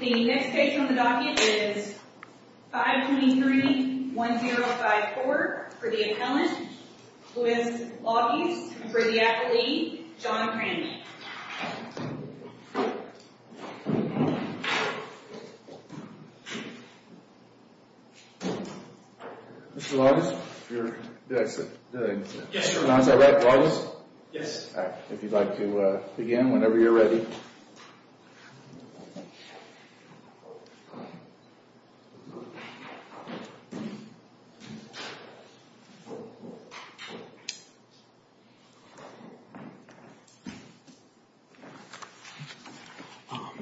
The next case on the docket is 523-1054 for the appellant, Luis Lagas and for the athlete, John Cranley. Mr. Lagas? Yes, sir. Is that right, Lagas? Yes. If you'd like to begin whenever you're ready.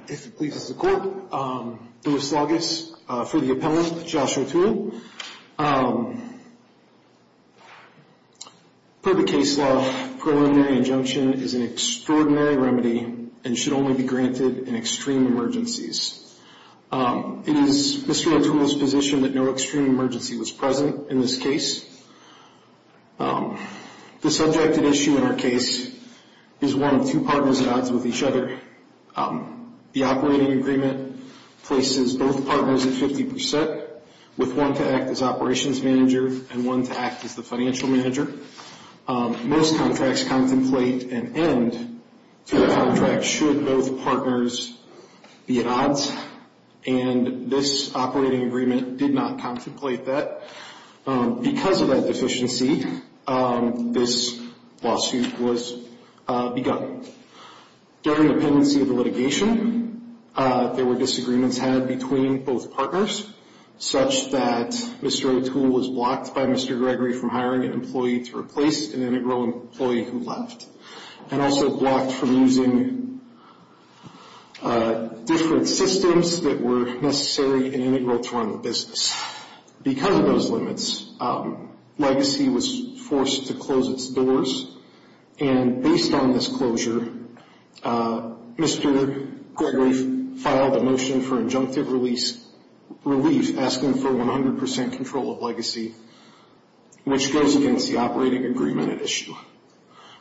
If you'll please, this is the court. Luis Lagas for the appellant, Joshua Toole. Per the case law, preliminary injunction is an extraordinary remedy and should only be granted in extreme emergencies. It is Mr. O'Toole's position that no extreme emergency was present in this case. The subject at issue in our case is one of two partners at odds with each other. The operating agreement places both partners at 50% with one to act as operations manager and one to act as the financial manager. Most contracts contemplate an end to the contract should both partners be at odds, and this operating agreement did not contemplate that. Because of that deficiency, this lawsuit was begun. During the pendency of the litigation, there were disagreements had between both partners, such that Mr. O'Toole was blocked by Mr. Gregory from hiring an employee to replace an integral employee who left, and also blocked from using different systems that were necessary and integral to run the business. Because of those limits, Legacy was forced to close its doors, and based on this closure, Mr. Gregory filed a motion for injunctive relief, asking for 100% control of Legacy, which goes against the operating agreement at issue.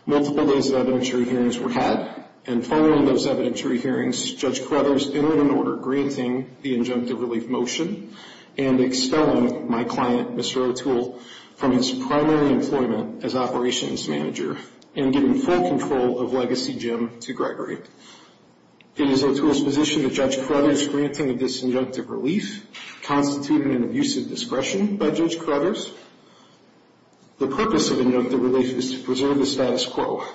Multiple days of evidentiary hearings were had, and following those evidentiary hearings, Judge Carruthers entered an order granting the injunctive relief motion, and expelling my client, Mr. O'Toole, from his primary employment as operations manager, and giving full control of Legacy Jim to Gregory. It is O'Toole's position that Judge Carruthers' granting of this injunctive relief constituted an abuse of discretion by Judge Carruthers. The purpose of injunctive relief is to preserve the status quo,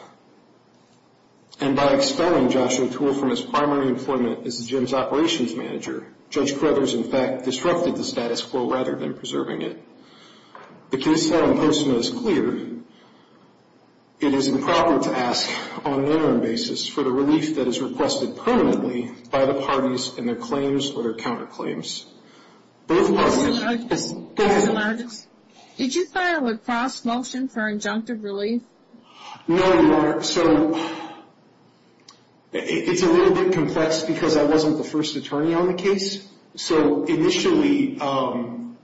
and by expelling Joshua O'Toole from his primary employment as Jim's operations manager, Judge Carruthers, in fact, disrupted the status quo rather than preserving it. The case file in Postma is clear. It is improper to ask, on an interim basis, for the relief that is requested permanently by the parties in their claims or their counterclaims. Both parties... Mr. Nargis, did you file a cross-motion for injunctive relief? No, Your Honor. So, it's a little bit complex because I wasn't the first attorney on the case. So, initially, Marshall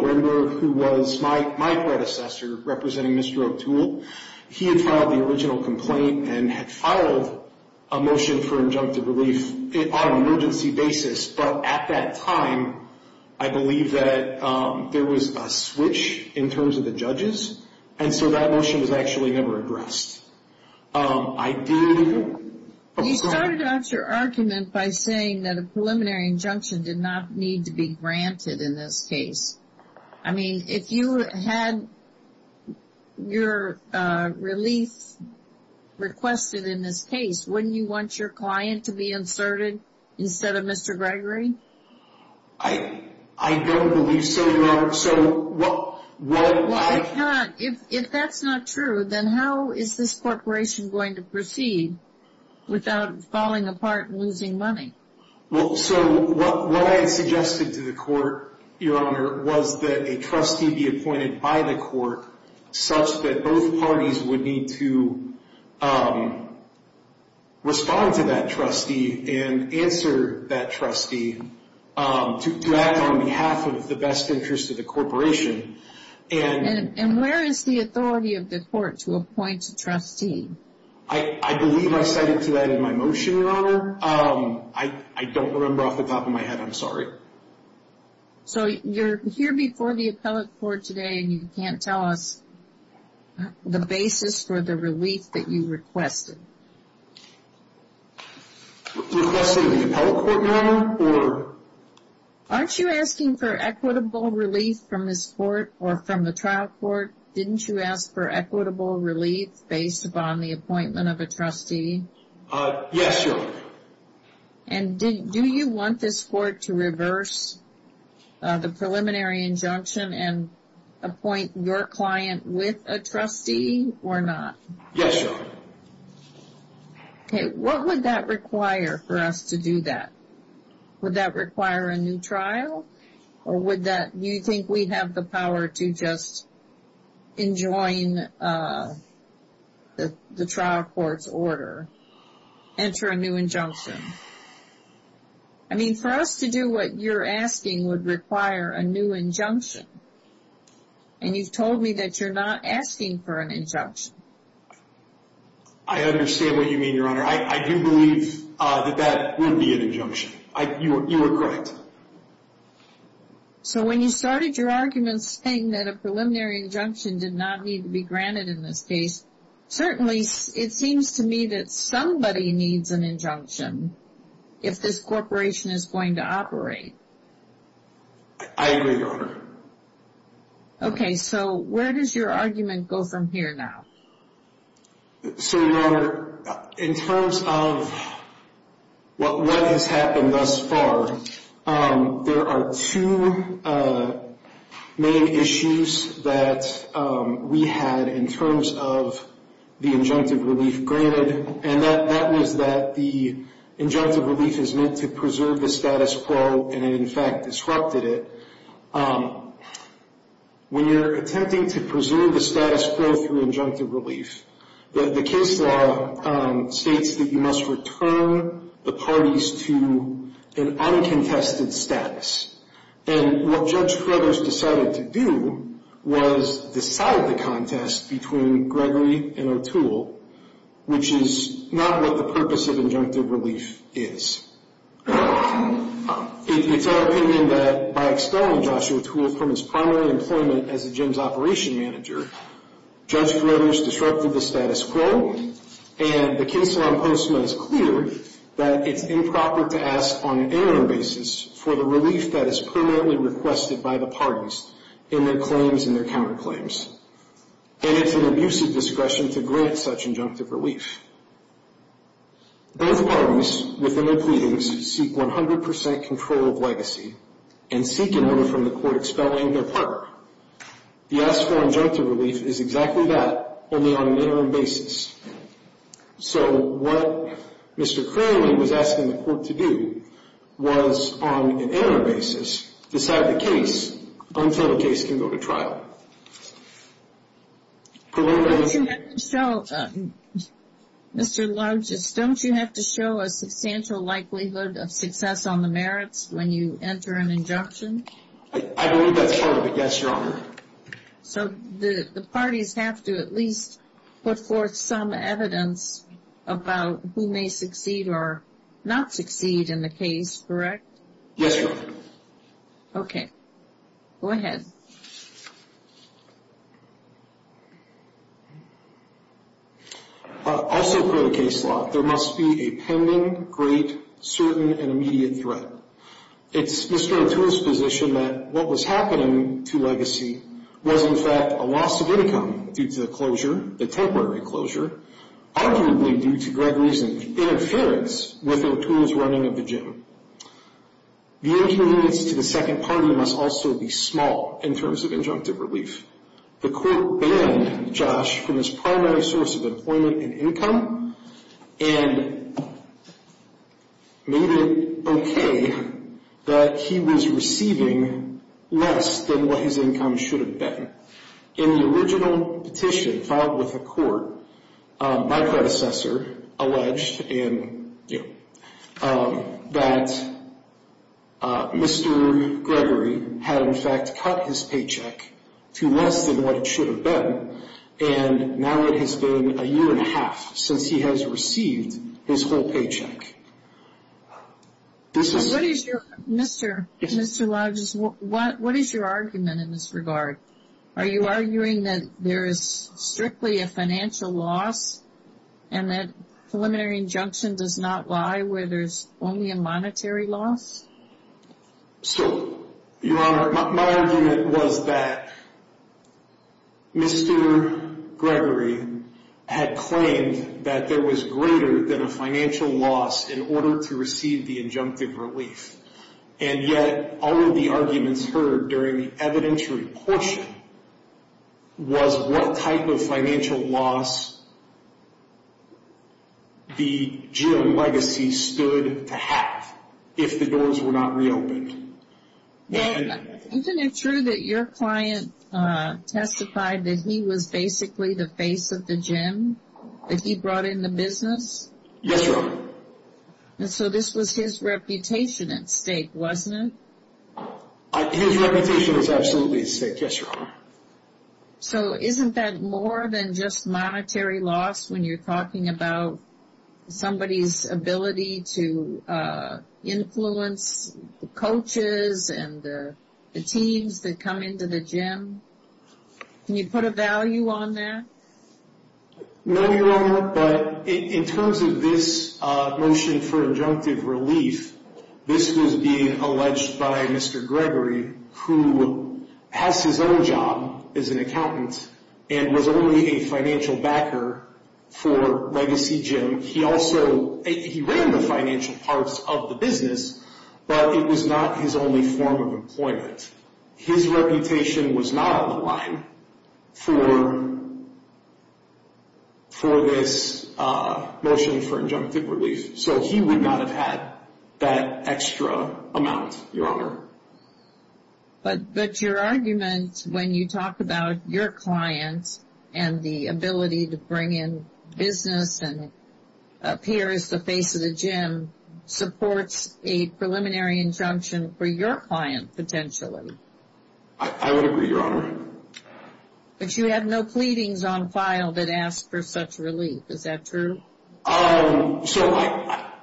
Rinder, who was my predecessor representing Mr. O'Toole, he had filed the original complaint and had filed a motion for injunctive relief on an emergency basis, but at that time, I believe that there was a switch in terms of the judges, and so that motion was actually never addressed. I did... You started off your argument by saying that a preliminary injunction did not need to be granted in this case. I mean, if you had your relief requested in this case, wouldn't you want your client to be inserted instead of Mr. Gregory? I don't believe so, Your Honor. Well, I cannot... If that's not true, then how is this corporation going to proceed without falling apart and losing money? Well, so what I had suggested to the court, Your Honor, was that a trustee be appointed by the court such that both parties would need to respond to that trustee and answer that trustee to act on behalf of the best interest of the corporation. And where is the authority of the court to appoint a trustee? I believe I cited to that in my motion, Your Honor. I don't remember off the top of my head. I'm sorry. So, you're here before the appellate court today, and you can't tell us the basis for the relief that you requested. Requesting the appellate court, Your Honor, or... Aren't you asking for equitable relief from this court or from the trial court? Didn't you ask for equitable relief based upon the appointment of a trustee? Yes, Your Honor. And do you want this court to reverse the preliminary injunction and appoint your client with a trustee or not? Yes, Your Honor. Okay, what would that require for us to do that? Would that require a new trial, or would that... or to just enjoin the trial court's order, enter a new injunction? I mean, for us to do what you're asking would require a new injunction. And you've told me that you're not asking for an injunction. I understand what you mean, Your Honor. I do believe that that would be an injunction. You are correct. So when you started your argument saying that a preliminary injunction did not need to be granted in this case, certainly it seems to me that somebody needs an injunction if this corporation is going to operate. I agree, Your Honor. Okay, so where does your argument go from here now? So, Your Honor, in terms of what has happened thus far, there are two main issues that we had in terms of the injunctive relief granted, and that was that the injunctive relief is meant to preserve the status quo, and it in fact disrupted it. When you're attempting to preserve the status quo through injunctive relief, the case law states that you must return the parties to an uncontested status. And what Judge Feathers decided to do was decide the contest between Gregory and O'Toole, which is not what the purpose of injunctive relief is. It's our opinion that by expelling Joshua Toole from his primary employment as the gym's operation manager, Judge Feathers disrupted the status quo, and the case law in Postman is clear that it's improper to ask on an interim basis for the relief that is permanently requested by the parties in their claims and their counterclaims. And it's an abusive discretion to grant such injunctive relief. Both parties within their pleadings seek 100% control of legacy and seek an order from the court expelling their partner. The asked for injunctive relief is exactly that, only on an interim basis. So what Mr. Crowley was asking the court to do was, on an interim basis, decide the case until the case can go to trial. Mr. Larges, don't you have to show a substantial likelihood of success on the merits when you enter an injunction? I believe that's part of it, yes, Your Honor. So the parties have to at least put forth some evidence about who may succeed or not succeed in the case, correct? Yes, Your Honor. Okay. Go ahead. Also per the case law, there must be a pending, great, certain, and immediate threat. It's Mr. O'Toole's position that what was happening to legacy was, in fact, a loss of income due to the closure, the temporary closure, arguably due to Gregory's interference with O'Toole's running of the gym. The inconvenience to the second party must also be small in terms of injunctive relief. The court banned Josh from his primary source of employment and income and made it okay that he was receiving less than what his income should have been. In the original petition filed with the court, my predecessor alleged that Mr. Gregory had, in fact, cut his paycheck to less than what it should have been, and now it has been a year and a half since he has received his whole paycheck. What is your argument in this regard? Are you arguing that there is strictly a financial loss and that preliminary injunction does not lie where there is only a monetary loss? So, Your Honor, my argument was that Mr. Gregory had claimed that there was greater than a financial loss in order to receive the injunctive relief, and yet all of the arguments heard during the evidentiary portion was what type of financial loss the gym legacy stood to have if the doors were not reopened. Well, isn't it true that your client testified that he was basically the face of the gym, that he brought in the business? Yes, Your Honor. And so this was his reputation at stake, wasn't it? His reputation was absolutely at stake, yes, Your Honor. So isn't that more than just monetary loss when you're talking about somebody's ability to influence the coaches and the teams that come into the gym? Can you put a value on that? No, Your Honor, but in terms of this motion for injunctive relief, this was being alleged by Mr. Gregory, who has his own job as an accountant and was only a financial backer for Legacy Gym. He ran the financial parts of the business, but it was not his only form of employment. His reputation was not on the line for this motion for injunctive relief, so he would not have had that extra amount, Your Honor. But your argument when you talk about your client and the ability to bring in business and appear as the face of the gym supports a preliminary injunction for your client potentially. I would agree, Your Honor. But you have no pleadings on file that ask for such relief. Is that true? So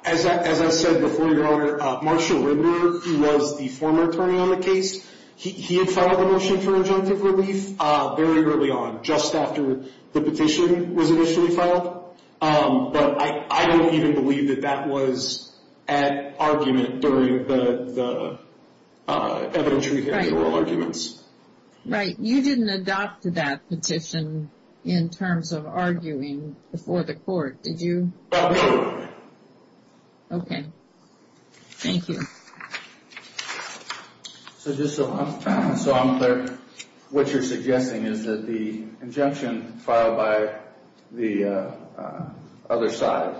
as I said before, Your Honor, Marshall Rinder, who was the former attorney on the case, he had filed a motion for injunctive relief very early on, just after the petition was initially filed. But I don't even believe that that was at argument during the evidentiary and oral arguments. Right. You didn't adopt that petition in terms of arguing before the court, did you? No. Okay. Thank you. So just so I'm clear, what you're suggesting is that the injunction filed by the other side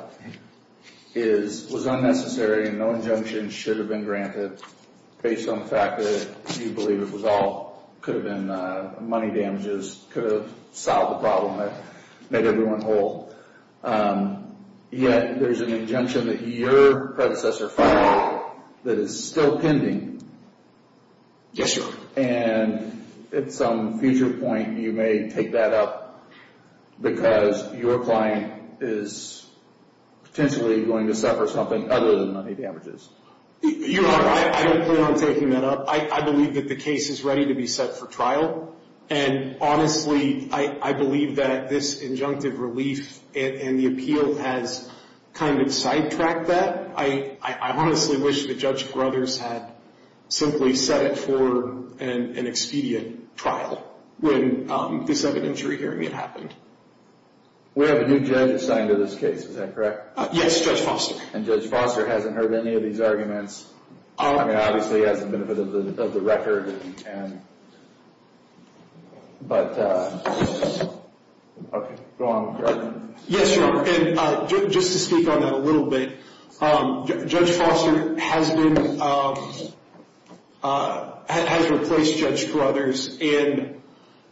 was unnecessary and no injunction should have been granted based on the fact that you believe it could have been money damages, could have solved the problem that made everyone whole. Yet there's an injunction that your predecessor filed that is still pending. Yes, Your Honor. And at some future point, you may take that up because your client is potentially going to suffer something other than money damages. Your Honor, I don't plan on taking that up. I believe that the case is ready to be set for trial. And honestly, I believe that this injunctive relief and the appeal has kind of sidetracked that. I honestly wish that Judge Gruthers had simply set it for an expedient trial when this evidentiary hearing had happened. We have a new judge assigned to this case. Is that correct? Yes, Judge Foster. And Judge Foster hasn't heard any of these arguments. I mean, obviously he has the benefit of the record. But, okay, go on. Yes, Your Honor. And just to speak on that a little bit, Judge Foster has been, has replaced Judge Gruthers. And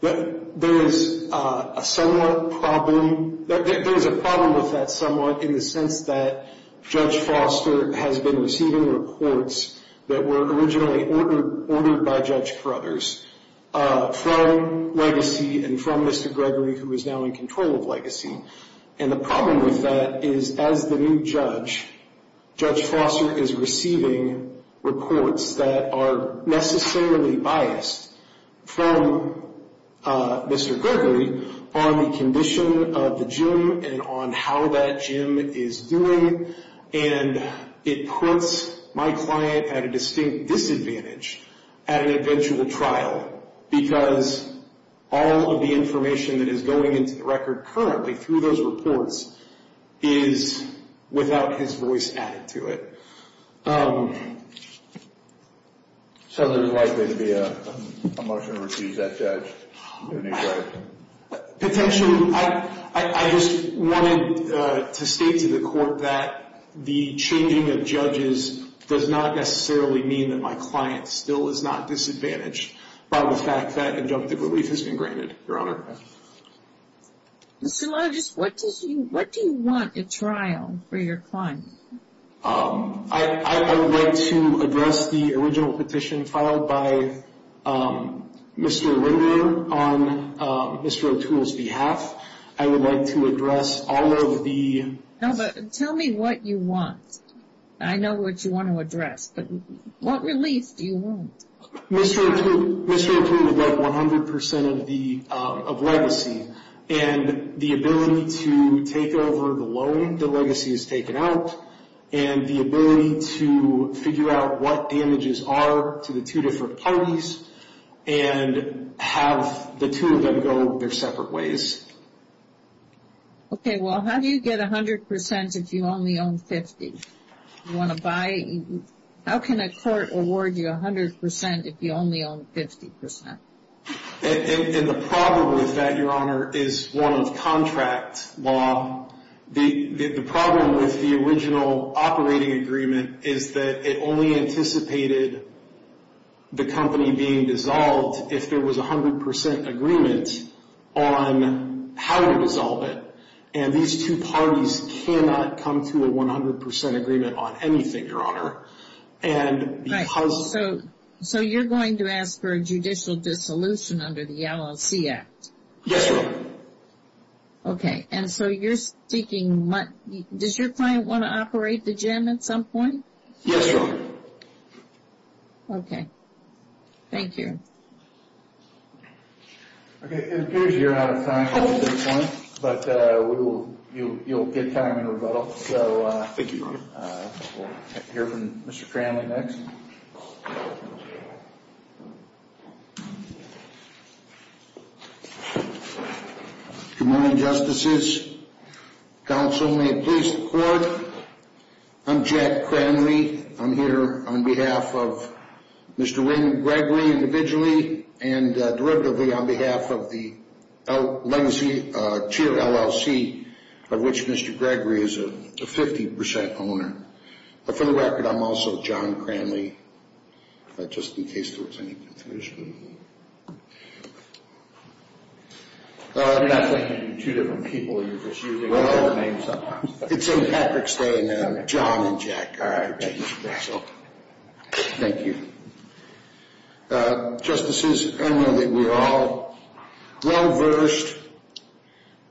there is a somewhat problem, there is a problem with that somewhat in the sense that Judge Foster has been receiving reports that were originally ordered by Judge Gruthers from Legacy and from Mr. Gregory, who is now in control of Legacy. And the problem with that is as the new judge, Judge Foster is receiving reports that are necessarily biased from Mr. Gregory on the condition of the gym and on how that gym is doing. And it puts my client at a distinct disadvantage at an eventual trial because all of the information that is going into the record currently through those reports is without his voice added to it. So there is likely to be a motion to refuse that judge? Potentially. I just wanted to state to the court that the changing of judges does not necessarily mean that my client still is not disadvantaged by the fact that injunctive relief has been granted, Your Honor. So what do you want at trial for your client? I would like to address the original petition filed by Mr. Linder on Mr. O'Toole's behalf. I would like to address all of the... No, but tell me what you want. I know what you want to address, but what relief do you want? Mr. O'Toole would like 100% of Legacy. And the ability to take over the loan that Legacy has taken out and the ability to figure out what damages are to the two different parties and have the two of them go their separate ways. Okay, well, how do you get 100% if you only own 50? How can a court award you 100% if you only own 50%? And the problem with that, Your Honor, is one of contract law. The problem with the original operating agreement is that it only anticipated the company being dissolved if there was 100% agreement on how to dissolve it. And these two parties cannot come to a 100% agreement on anything, Your Honor. Right, so you're going to ask for a judicial dissolution under the LLC Act? Yes, Your Honor. Okay, and so you're seeking... Does your client want to operate the gym at some point? Yes, Your Honor. Okay. Thank you. Okay, it appears you're out of time at this point, but you'll get time in rebuttal. Thank you, Your Honor. We'll hear from Mr. Cranley next. Good morning, Justices. Counsel, may it please the Court. I'm Jack Cranley. I'm here on behalf of Mr. Raymond Gregory individually and derivatively on behalf of the Lenzy Cheer LLC, of which Mr. Gregory is a 50% owner. But for the record, I'm also John Cranley, just in case there was any confusion. I'm not thinking of you two different people. You're just using the same name sometimes. Well, it's in Patrick's name now, John and Jack. All right, thank you, Counsel. Thank you. Justices, I know that we are all well-versed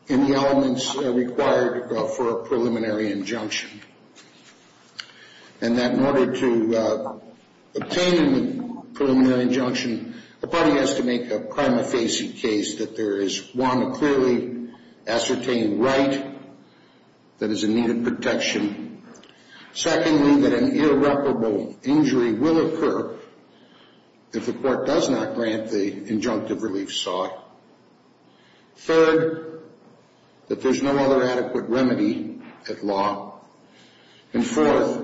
in the elements required for a preliminary injunction, and that in order to obtain the preliminary injunction, a party has to make a prima facie case that there is, one, a clearly ascertained right that is in need of protection. Secondly, that an irreparable injury will occur if the Court does not grant the injunctive relief sought. Third, that there's no other adequate remedy at law. And fourth,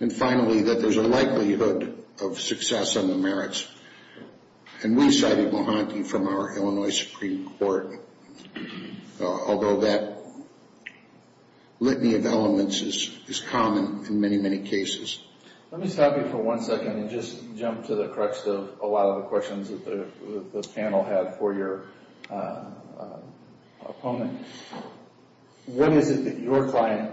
and finally, that there's a likelihood of success on the merits. And we cited Mohanty from our Illinois Supreme Court, although that litany of elements is common in many, many cases. Let me stop you for one second and just jump to the crux of a lot of the questions that the panel had for your opponent. What is it that your client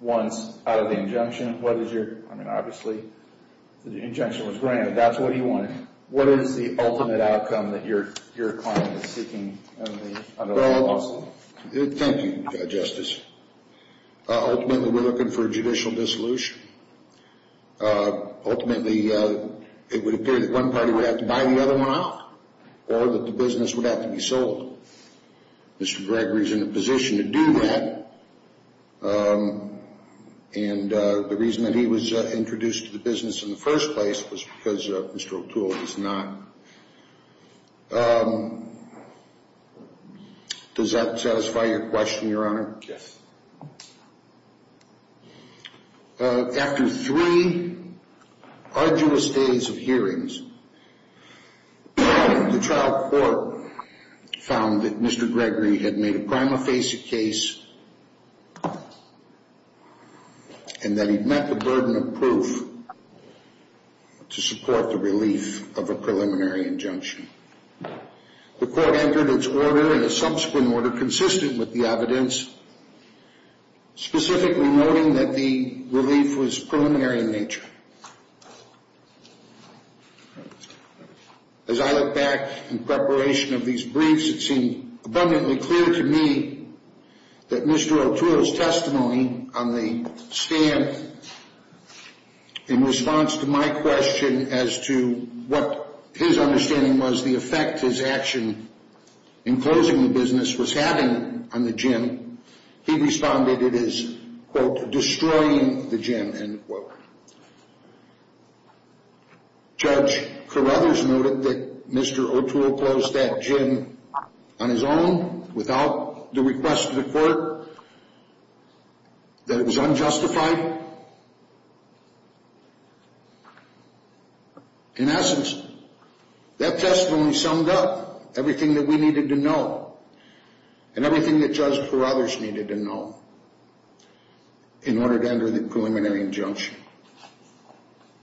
wants out of the injunction? I mean, obviously, the injunction was granted. That's what he wanted. What is the ultimate outcome that your client is seeking? Well, thank you, Justice. Ultimately, we're looking for judicial dissolution. Ultimately, it would appear that one party would have to buy the other one out, or that the business would have to be sold. Mr. Gregory is in a position to do that, and the reason that he was introduced to the business in the first place was because Mr. O'Toole is not. Does that satisfy your question, Your Honor? Yes. After three arduous days of hearings, the trial court found that Mr. Gregory had made a prima facie case and that he'd met the burden of proof to support the relief of a preliminary injunction. The court entered its order in a subsequent order consistent with the evidence, As I look back in preparation of these briefs, it seemed abundantly clear to me that Mr. O'Toole's testimony on the stand in response to my question as to what his understanding was the effect his action in closing the business was having on the gym, he responded it is, quote, destroying the gym, end quote. Judge Carruthers noted that Mr. O'Toole closed that gym on his own, without the request of the court, that it was unjustified. In essence, that testimony summed up everything that we needed to know and everything that Judge Carruthers needed to know in order to enter the preliminary injunction.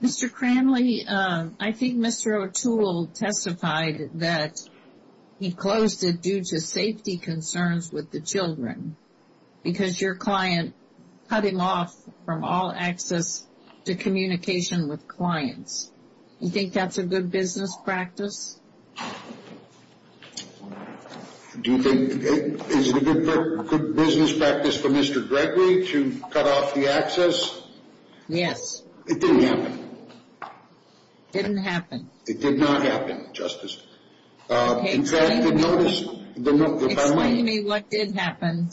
Mr. Cranley, I think Mr. O'Toole testified that he closed it due to safety concerns with the children because your client cut him off from all access to communication with clients. You think that's a good business practice? Do you think it is a good business practice for Mr. Gregory to cut off the access? Yes. It didn't happen. It didn't happen. It did not happen, Justice. Explain to me what did happen.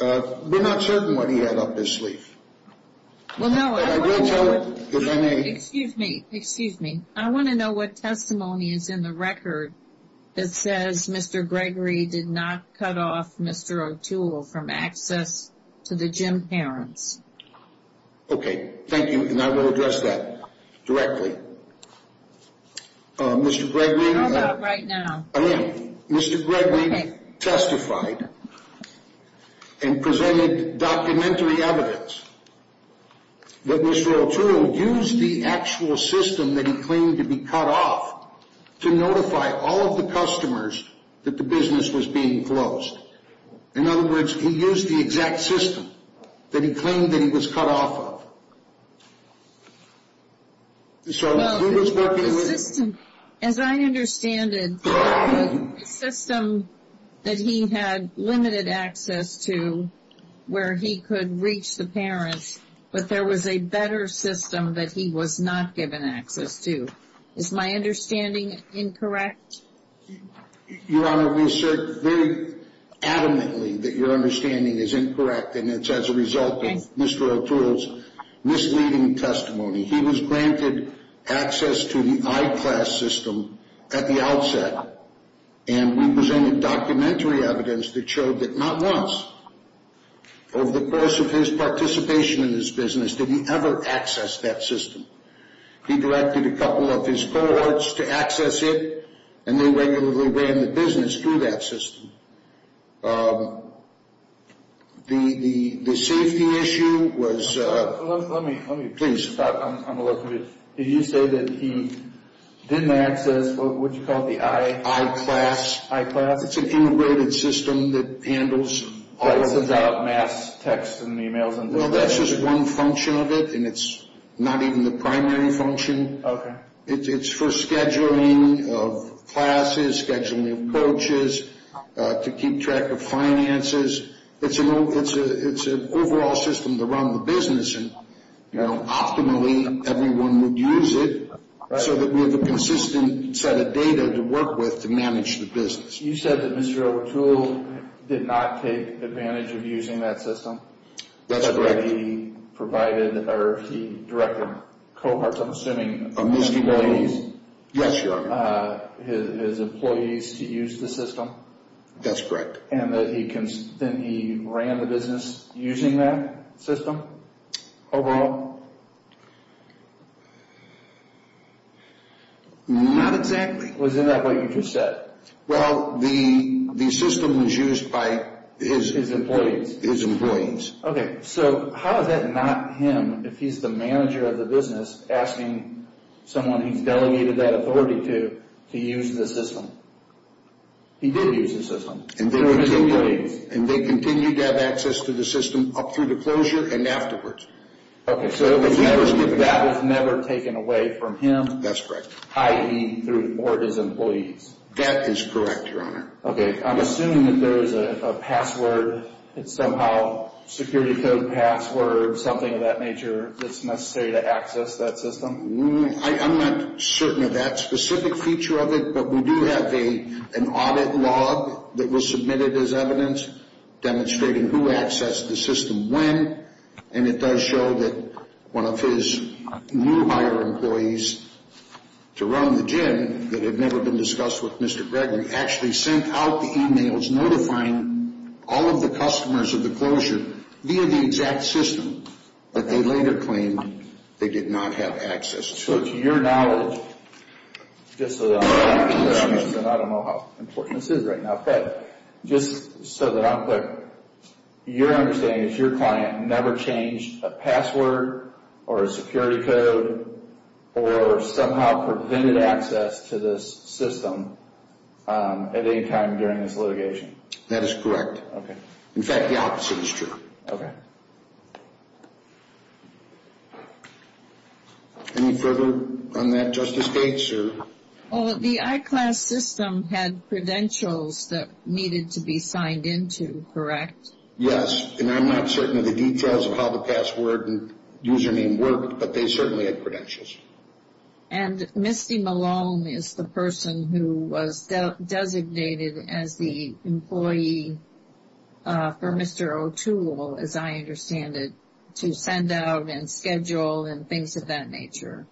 We're not certain what he had up his sleeve. Well, no. Excuse me. Excuse me. I want to know what testimony is in the record that says Mr. Gregory did not cut off Mr. O'Toole from access to the gym parents. Okay. Thank you, and I will address that directly. Mr. Gregory testified and presented documentary evidence that Mr. O'Toole used the actual system that he claimed to be cut off to notify all of the customers that the business was being closed. In other words, he used the exact system that he claimed that he was cut off of. So who was working with him? As I understand it, the system that he had limited access to where he could reach the parents, but there was a better system that he was not given access to. Is my understanding incorrect? Your Honor, we assert very adamantly that your understanding is incorrect, and it's as a result of Mr. O'Toole's misleading testimony. He was granted access to the iClass system at the outset, and we presented documentary evidence that showed that not once over the course of his participation in this business did he ever access that system. He directed a couple of his cohorts to access it, and they regularly ran the business through that system. The safety issue was— Let me— Please. Did you say that he didn't access, what did you call it, the i— iClass. iClass. It's an integrated system that handles all— It sends out mass texts and emails and— Well, that's just one function of it, and it's not even the primary function. Okay. It's for scheduling of classes, scheduling of coaches, to keep track of finances. It's an overall system to run the business, and optimally, everyone would use it so that we have a consistent set of data to work with to manage the business. You said that Mr. O'Toole did not take advantage of using that system. That's correct. He provided, or he directed cohorts, I'm assuming, of his employees. Yes, Your Honor. His employees to use the system. That's correct. And that he ran the business using that system overall? Not exactly. Was it not what you just said? Well, the system was used by his— His employees. His employees. Okay. So how is that not him, if he's the manager of the business, asking someone he's delegated that authority to to use the system? He did use the system. His employees. And they continued to have access to the system up through the closure and afterwards. Okay. So that was never taken away from him? That's correct. I.e., through or his employees? That is correct, Your Honor. Okay. I'm assuming that there is a password, somehow, security code password, something of that nature that's necessary to access that system? I'm not certain of that specific feature of it, but we do have an audit log that was submitted as evidence demonstrating who accessed the system when, and it does show that one of his new hire employees to run the gym that had never been discussed with Mr. Gregory actually sent out the e-mails notifying all of the customers of the closure via the exact system that they later claimed they did not have access to. So to your knowledge, just so that I'm clear, and I don't know how important this is right now, but just so that I'm clear, your understanding is your client never changed a password or a security code or somehow prevented access to this system at any time during this litigation? That is correct. Okay. In fact, the opposite is true. Okay. Any further on that, Justice Gates? The I-Class system had credentials that needed to be signed into, correct? Yes. And I'm not certain of the details of how the password and username worked, but they certainly had credentials. And Misty Malone is the person who was designated as the employee for Mr. O'Toole, as I understand it, to send out and schedule and things of that nature.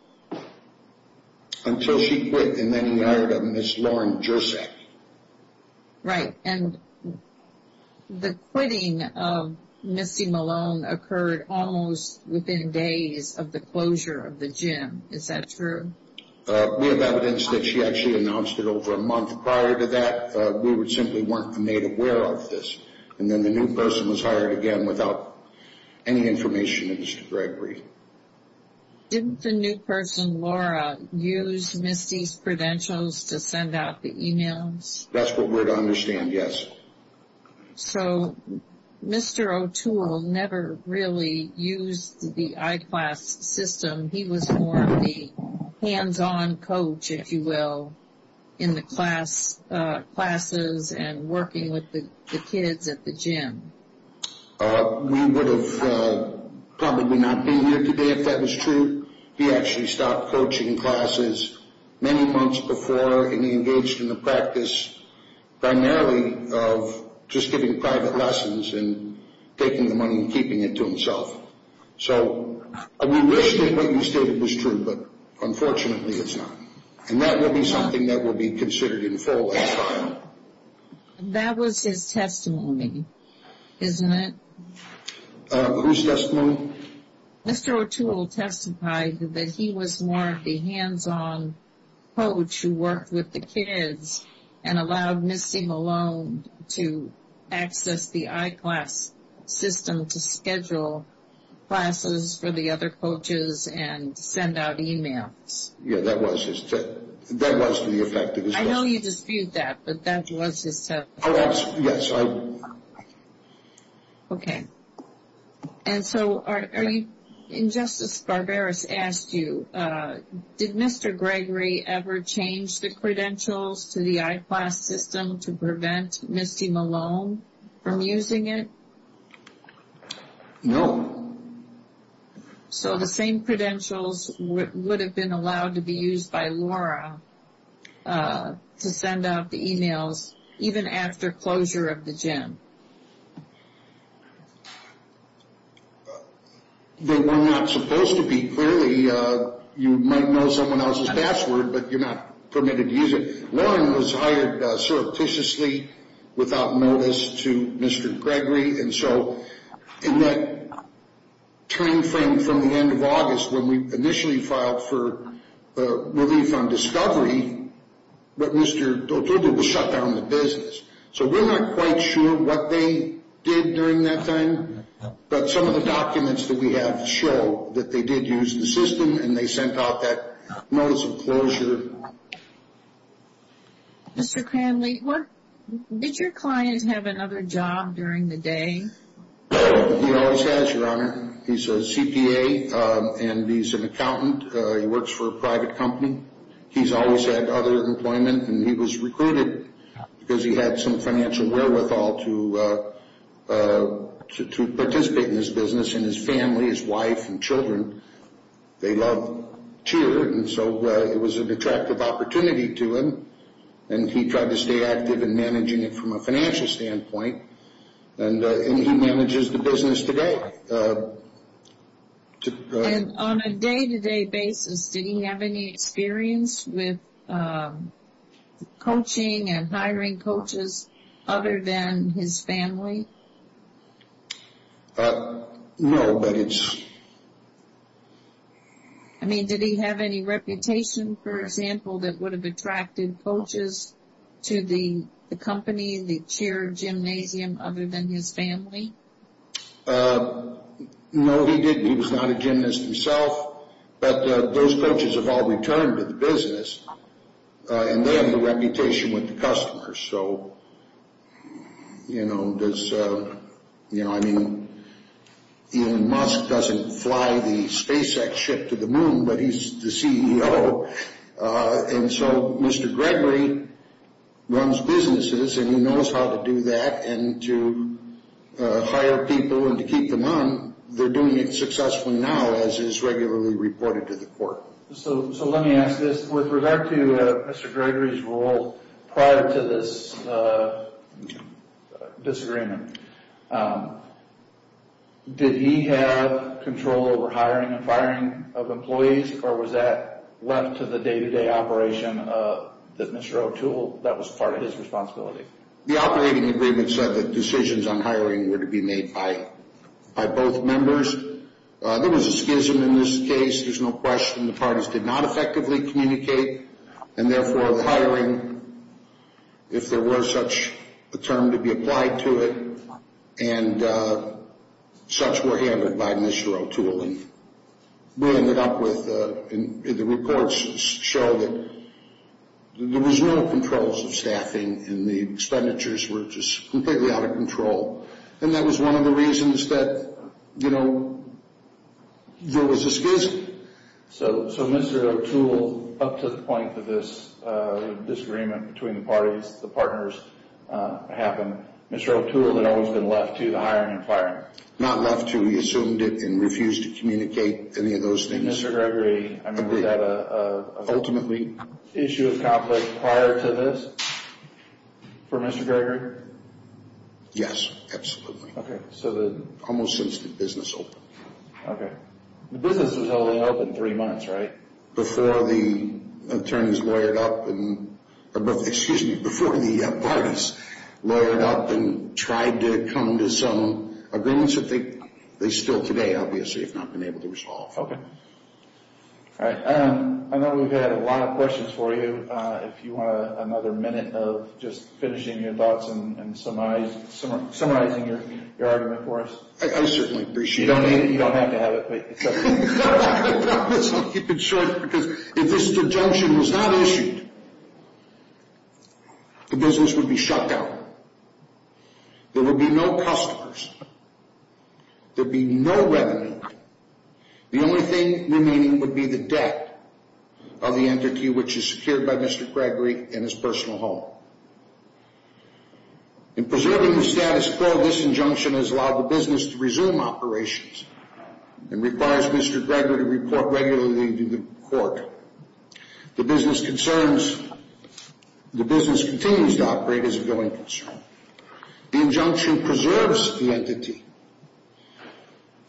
Until she quit and then he hired a Ms. Lauren Gersak. Right. And the quitting of Misty Malone occurred almost within days of the closure of the gym. Is that true? We have evidence that she actually announced it over a month prior to that. We simply weren't made aware of this. And then the new person was hired again without any information of Mr. Gregory. Didn't the new person, Laura, use Misty's credentials to send out the emails? That's what we're to understand, yes. So Mr. O'Toole never really used the I-Class system. He was more of the hands-on coach, if you will, in the classes and working with the kids at the gym. We would have probably not been here today if that was true. He actually stopped coaching classes many months before and he engaged in the practice primarily of just giving private lessons and taking the money and keeping it to himself. So we wish that what you stated was true, but unfortunately it's not. And that will be something that will be considered in full at the time. That was his testimony, isn't it? Whose testimony? Mr. O'Toole testified that he was more of the hands-on coach who worked with the kids and allowed Misty Malone to access the I-Class system to schedule classes for the other coaches and send out emails. Yes, that was his testimony. That was the effect of his testimony. I know you dispute that, but that was his testimony. Yes, I do. Okay. And so Justice Barberis asked you, did Mr. Gregory ever change the credentials to the I-Class system to prevent Misty Malone from using it? No. So the same credentials would have been allowed to be used by Laura to send out the emails even after closure of the gym? They were not supposed to be. Clearly, you might know someone else's password, but you're not permitted to use it. Lauren was hired surreptitiously, without notice, to Mr. Gregory. And so in that time frame from the end of August, when we initially filed for relief on discovery, so we're not quite sure what they did during that time, but some of the documents that we have show that they did use the system and they sent out that notice of closure. Mr. Cranley, did your client have another job during the day? He always has, Your Honor. He's a CPA and he's an accountant. He works for a private company. He's always had other employment and he was recruited because he had some financial wherewithal to participate in this business. And his family, his wife and children, they love cheer, and so it was an attractive opportunity to him. And he tried to stay active in managing it from a financial standpoint. And he manages the business today. And on a day-to-day basis, did he have any experience with coaching and hiring coaches other than his family? No. I mean, did he have any reputation, for example, that would have attracted coaches to the company, the cheer gymnasium, other than his family? No, he didn't. He was not a gymnast himself. But those coaches have all returned to the business and they have a reputation with the customers. So, you know, I mean, Elon Musk doesn't fly the SpaceX ship to the moon, but he's the CEO. And so Mr. Gregory runs businesses and he knows how to do that and to hire people and to keep them on, they're doing it successfully now as is regularly reported to the court. So let me ask this. With regard to Mr. Gregory's role prior to this disagreement, did he have control over hiring and firing of employees or was that left to the day-to-day operation that Mr. O'Toole, that was part of his responsibility? The operating agreement said that decisions on hiring were to be made by both members. There was a schism in this case, there's no question. The parties did not effectively communicate. And therefore, hiring, if there were such a term to be applied to it, and such were handled by Mr. O'Toole. And we ended up with the reports show that there was no controls of staffing and the expenditures were just completely out of control. And that was one of the reasons that, you know, there was a schism. So Mr. O'Toole, up to the point that this disagreement between the parties, the partners happened, Mr. O'Toole had always been left to the hiring and firing? Not left to. He assumed it and refused to communicate any of those things. Mr. Gregory, was that an issue of conflict prior to this for Mr. Gregory? Yes, absolutely. Almost since the business opened. Okay. The business was only open three months, right? Before the attorneys lawyered up, excuse me, before the parties lawyered up and tried to come to some agreements that they still today, obviously, have not been able to resolve. Okay. All right. I know we've had a lot of questions for you. If you want another minute of just finishing your thoughts and summarizing your argument for us. I certainly appreciate it. If you don't need it, you don't have to have it. I'm not going to talk about this. I'll keep it short because if this injunction was not issued, the business would be shut down. There would be no customers. There would be no revenue. The only thing remaining would be the debt of the entity, which is secured by Mr. Gregory and his personal home. In preserving the status quo, this injunction has allowed the business to resume operations and requires Mr. Gregory to report regularly to the court. The business continues to operate as a going concern. The injunction preserves the entity.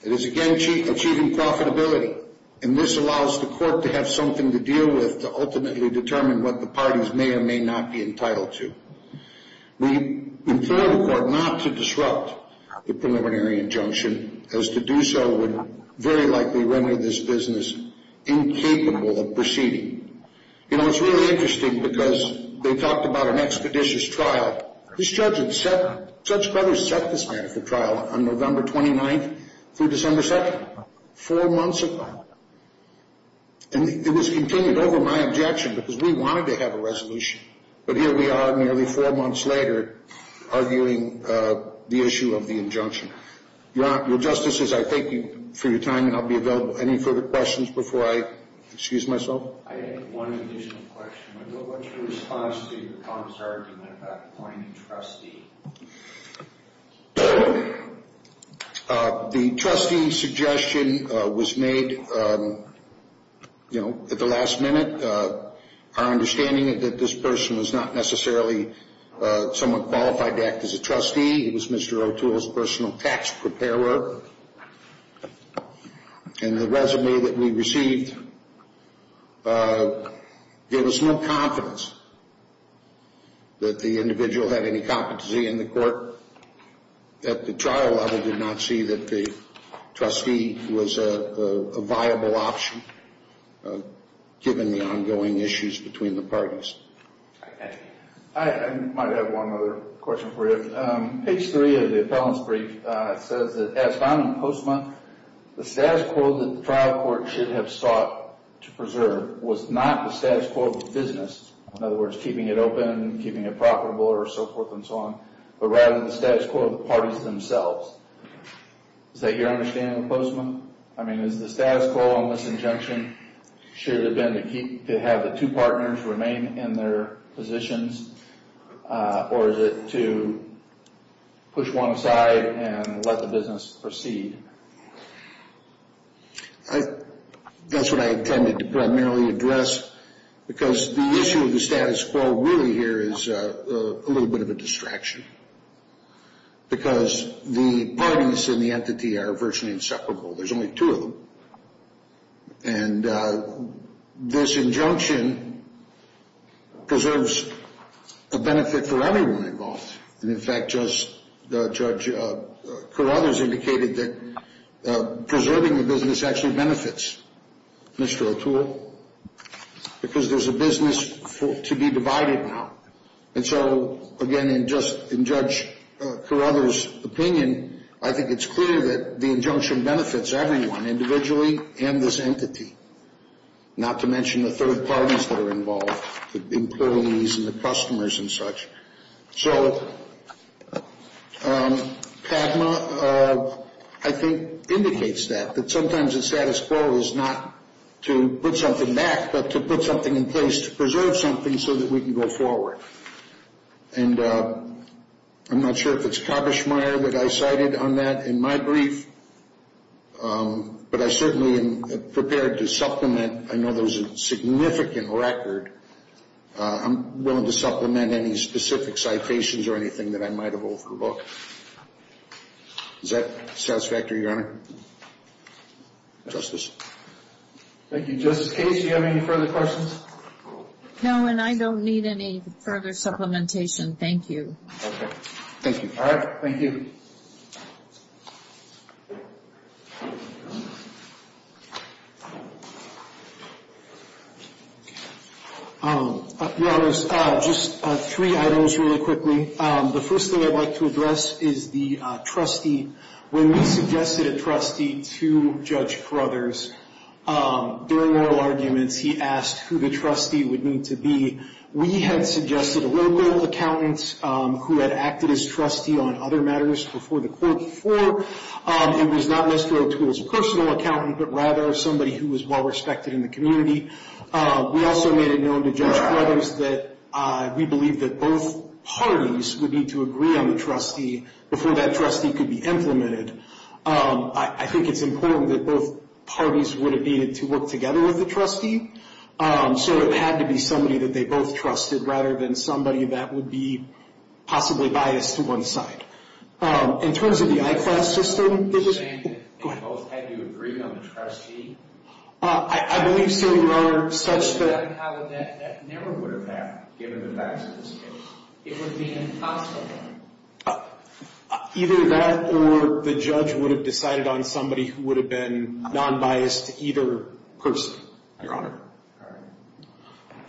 It is, again, achieving profitability, and this allows the court to have something to deal with to ultimately determine what the parties may or may not be entitled to. We implore the court not to disrupt the preliminary injunction, as to do so would very likely render this business incapable of proceeding. You know, it's really interesting because they talked about an expeditious trial. This judge had set this matter for trial on November 29th through December 2nd, four months ago, and it was continued over my objection because we wanted to have a resolution, but here we are nearly four months later arguing the issue of the injunction. Your Honor, Your Justices, I thank you for your time, and I'll be available. Any further questions before I excuse myself? I have one additional question. What's your response to your comments at that point, Trustee? The Trustee's suggestion was made, you know, at the last minute. Our understanding is that this person was not necessarily somewhat qualified to act as a trustee. He was Mr. O'Toole's personal tax preparer, and the resume that we received gave us no confidence that the individual had any competency in the court. At the trial level, we did not see that the trustee was a viable option, given the ongoing issues between the parties. I might have one other question for you. Page 3 of the appellant's brief says that, as found in Postma, the status quo that the trial court should have sought to preserve was not the status quo of the business, in other words, keeping it open, keeping it profitable, or so forth and so on, but rather the status quo of the parties themselves. Is that your understanding of Postma? I mean, is the status quo on this injunction should have been to have the two partners remain in their positions, or is it to push one aside and let the business proceed? That's what I intended to primarily address, because the issue of the status quo really here is a little bit of a distraction, because the parties and the entity are virtually inseparable. There's only two of them. And this injunction preserves a benefit for everyone involved. And, in fact, Judge Carruthers indicated that preserving the business actually benefits Mr. O'Toole. Because there's a business to be divided now. And so, again, in Judge Carruthers' opinion, I think it's clear that the injunction benefits everyone individually and this entity, not to mention the third parties that are involved, the employees and the customers and such. So PADMA, I think, indicates that, that sometimes the status quo is not to put something back, but to put something in place to preserve something so that we can go forward. And I'm not sure if it's Kabersmeyer that I cited on that in my brief, but I certainly am prepared to supplement. I know there's a significant record. I'm willing to supplement any specific citations or anything that I might have overlooked. Is that satisfactory, Your Honor? Justice. Thank you. Justice Case, do you have any further questions? No, and I don't need any further supplementation. Thank you. Okay. Thank you. All right, thank you. Your Honor, just three items really quickly. The first thing I'd like to address is the trustee. When we suggested a trustee to Judge Carruthers, during oral arguments, he asked who the trustee would need to be. We had suggested a local accountant who had acted as trustee on other matters before the court. It was not necessarily to his personal accountant, but rather somebody who was well-respected in the community. We also made it known to Judge Carruthers that we believed that both parties would need to agree on the trustee before that trustee could be implemented. I think it's important that both parties would have needed to work together with the trustee, so it had to be somebody that they both trusted rather than somebody that would be possibly biased to one side. In terms of the I-Class system, did you say that they both had to agree on the trustee? I believe so, Your Honor. That never would have happened, given the facts of this case. It would have been impossible. Either that or the judge would have decided on somebody who would have been non-biased to either person. Your Honor.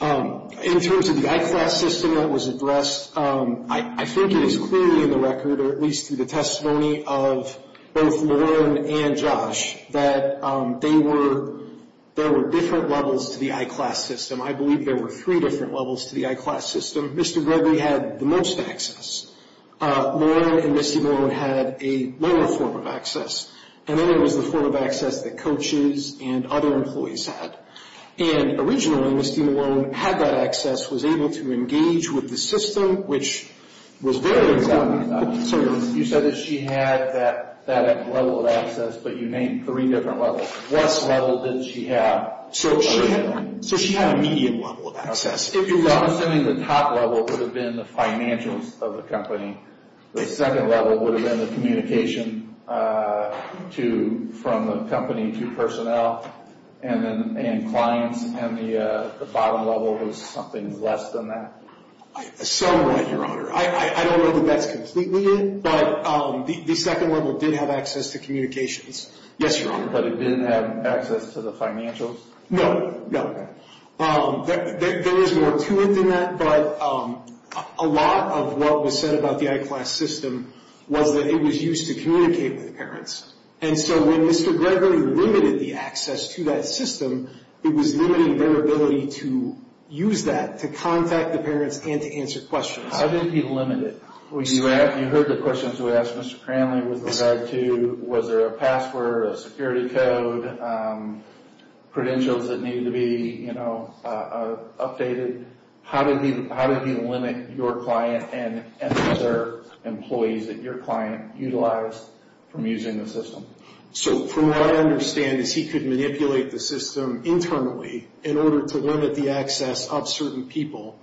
All right. In terms of the I-Class system that was addressed, I think it is clearly in the record, or at least through the testimony of both Lauren and Josh, that there were different levels to the I-Class system. I believe there were three different levels to the I-Class system. Mr. Gregory had the most access. Lauren and Misty Malone had a lower form of access. And then there was the form of access that coaches and other employees had. And originally, Misty Malone had that access, was able to engage with the system, which was very exciting. You said that she had that level of access, but you named three different levels. What level did she have? So she had a medium level of access. If you're wrong, I'm assuming the top level would have been the financials of the company. The second level would have been the communication from the company to personnel. And clients, and the bottom level was something less than that? Somewhat, Your Honor. I don't know that that's completely it, but the second level did have access to communications. Yes, Your Honor. But it didn't have access to the financials? No, no. Okay. There is more to it than that, but a lot of what was said about the I-Class system was that it was used to communicate with parents. And so when Mr. Gregory limited the access to that system, it was limiting their ability to use that, to contact the parents, and to answer questions. How did he limit it? You heard the questions we asked Mr. Cranley with regard to was there a password, a security code, credentials that needed to be updated? How did he limit your client and other employees that your client utilized from using the system? So from what I understand is he could manipulate the system internally in order to limit the access of certain people.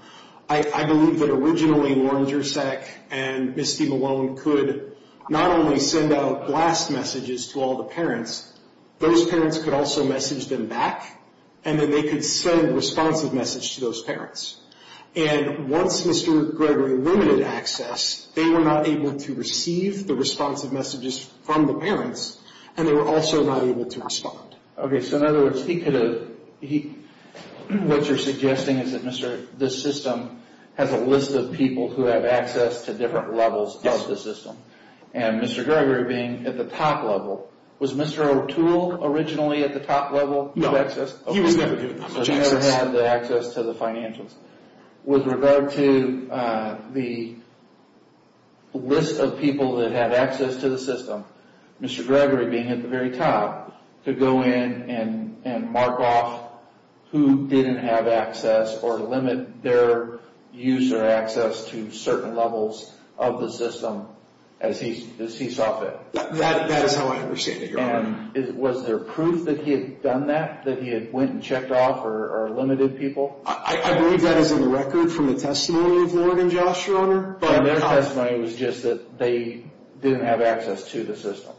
I believe that originally Warren Jurczak and Misty Malone could not only send out blast messages to all the parents, those parents could also message them back, and then they could send a responsive message to those parents. And once Mr. Gregory limited access, they were not able to receive the responsive messages from the parents, and they were also not able to respond. Okay, so in other words, what you're suggesting is that this system has a list of people who have access to different levels of the system. Yes. And Mr. Gregory being at the top level, was Mr. O'Toole originally at the top level of access? No, he was never given that much access. So he never had the access to the financials. With regard to the list of people that had access to the system, Mr. Gregory being at the very top, could go in and mark off who didn't have access or limit their use or access to certain levels of the system as he saw fit. That is how I understand it, Your Honor. And was there proof that he had done that, that he had went and checked off or limited people? I believe that is in the record from the testimony of Warren and Josh, Your Honor. Their testimony was just that they didn't have access to the system.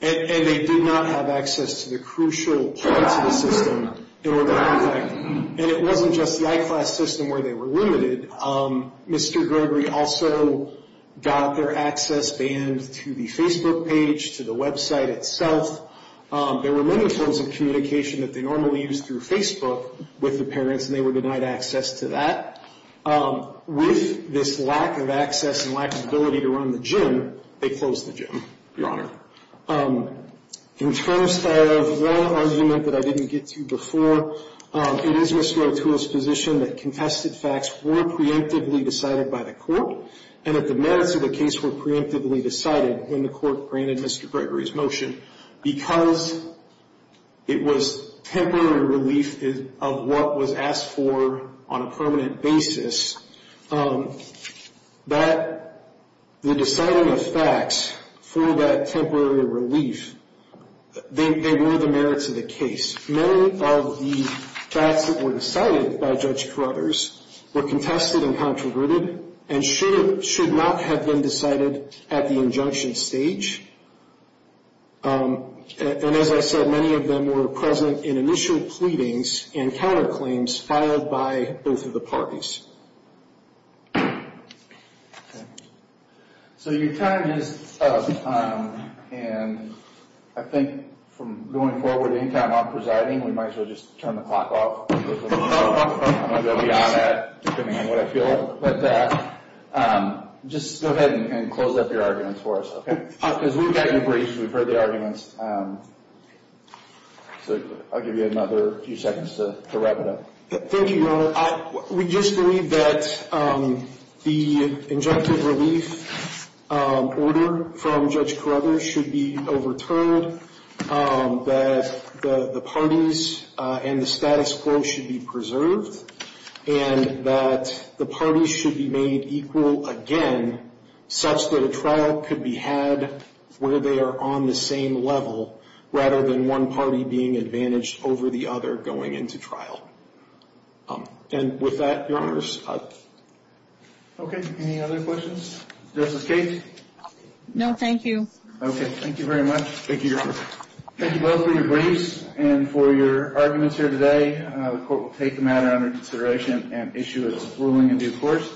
And they did not have access to the crucial parts of the system. And it wasn't just the I-Class system where they were limited. Mr. Gregory also got their access banned to the Facebook page, to the website itself. There were many forms of communication that they normally used through Facebook with the parents, and they were denied access to that. With this lack of access and lack of ability to run the gym, they closed the gym, Your Honor. In terms of one argument that I didn't get to before, it is Mr. O'Toole's position that contested facts were preemptively decided by the court, and that the merits of the case were preemptively decided when the court granted Mr. Gregory's motion. Because it was temporary relief of what was asked for on a permanent basis, that the deciding of facts for that temporary relief, they were the merits of the case. Many of the facts that were decided by Judge Carruthers were contested and controverted, and should not have been decided at the injunction stage. And as I said, many of them were present in initial pleadings and counterclaims filed by both of the parties. So your time is up. And I think from going forward, anytime I'm presiding, we might as well just turn the clock off. I'm going to go beyond that, depending on what I feel. But just go ahead and close up your arguments for us, okay? Because we've got you braced. We've heard the arguments. So I'll give you another few seconds to wrap it up. Thank you, Your Honor. We just believe that the injunctive relief order from Judge Carruthers should be overturned, that the parties and the status quo should be preserved, and that the parties should be made equal again, such that a trial could be had where they are on the same level, rather than one party being advantaged over the other going into trial. And with that, Your Honor, I'll stop. Okay. Any other questions? Justice Case? No, thank you. Okay. Thank you very much. Thank you, Your Honor. Thank you both for your briefs and for your arguments here today. The court will take the matter under consideration and issue its ruling in due course.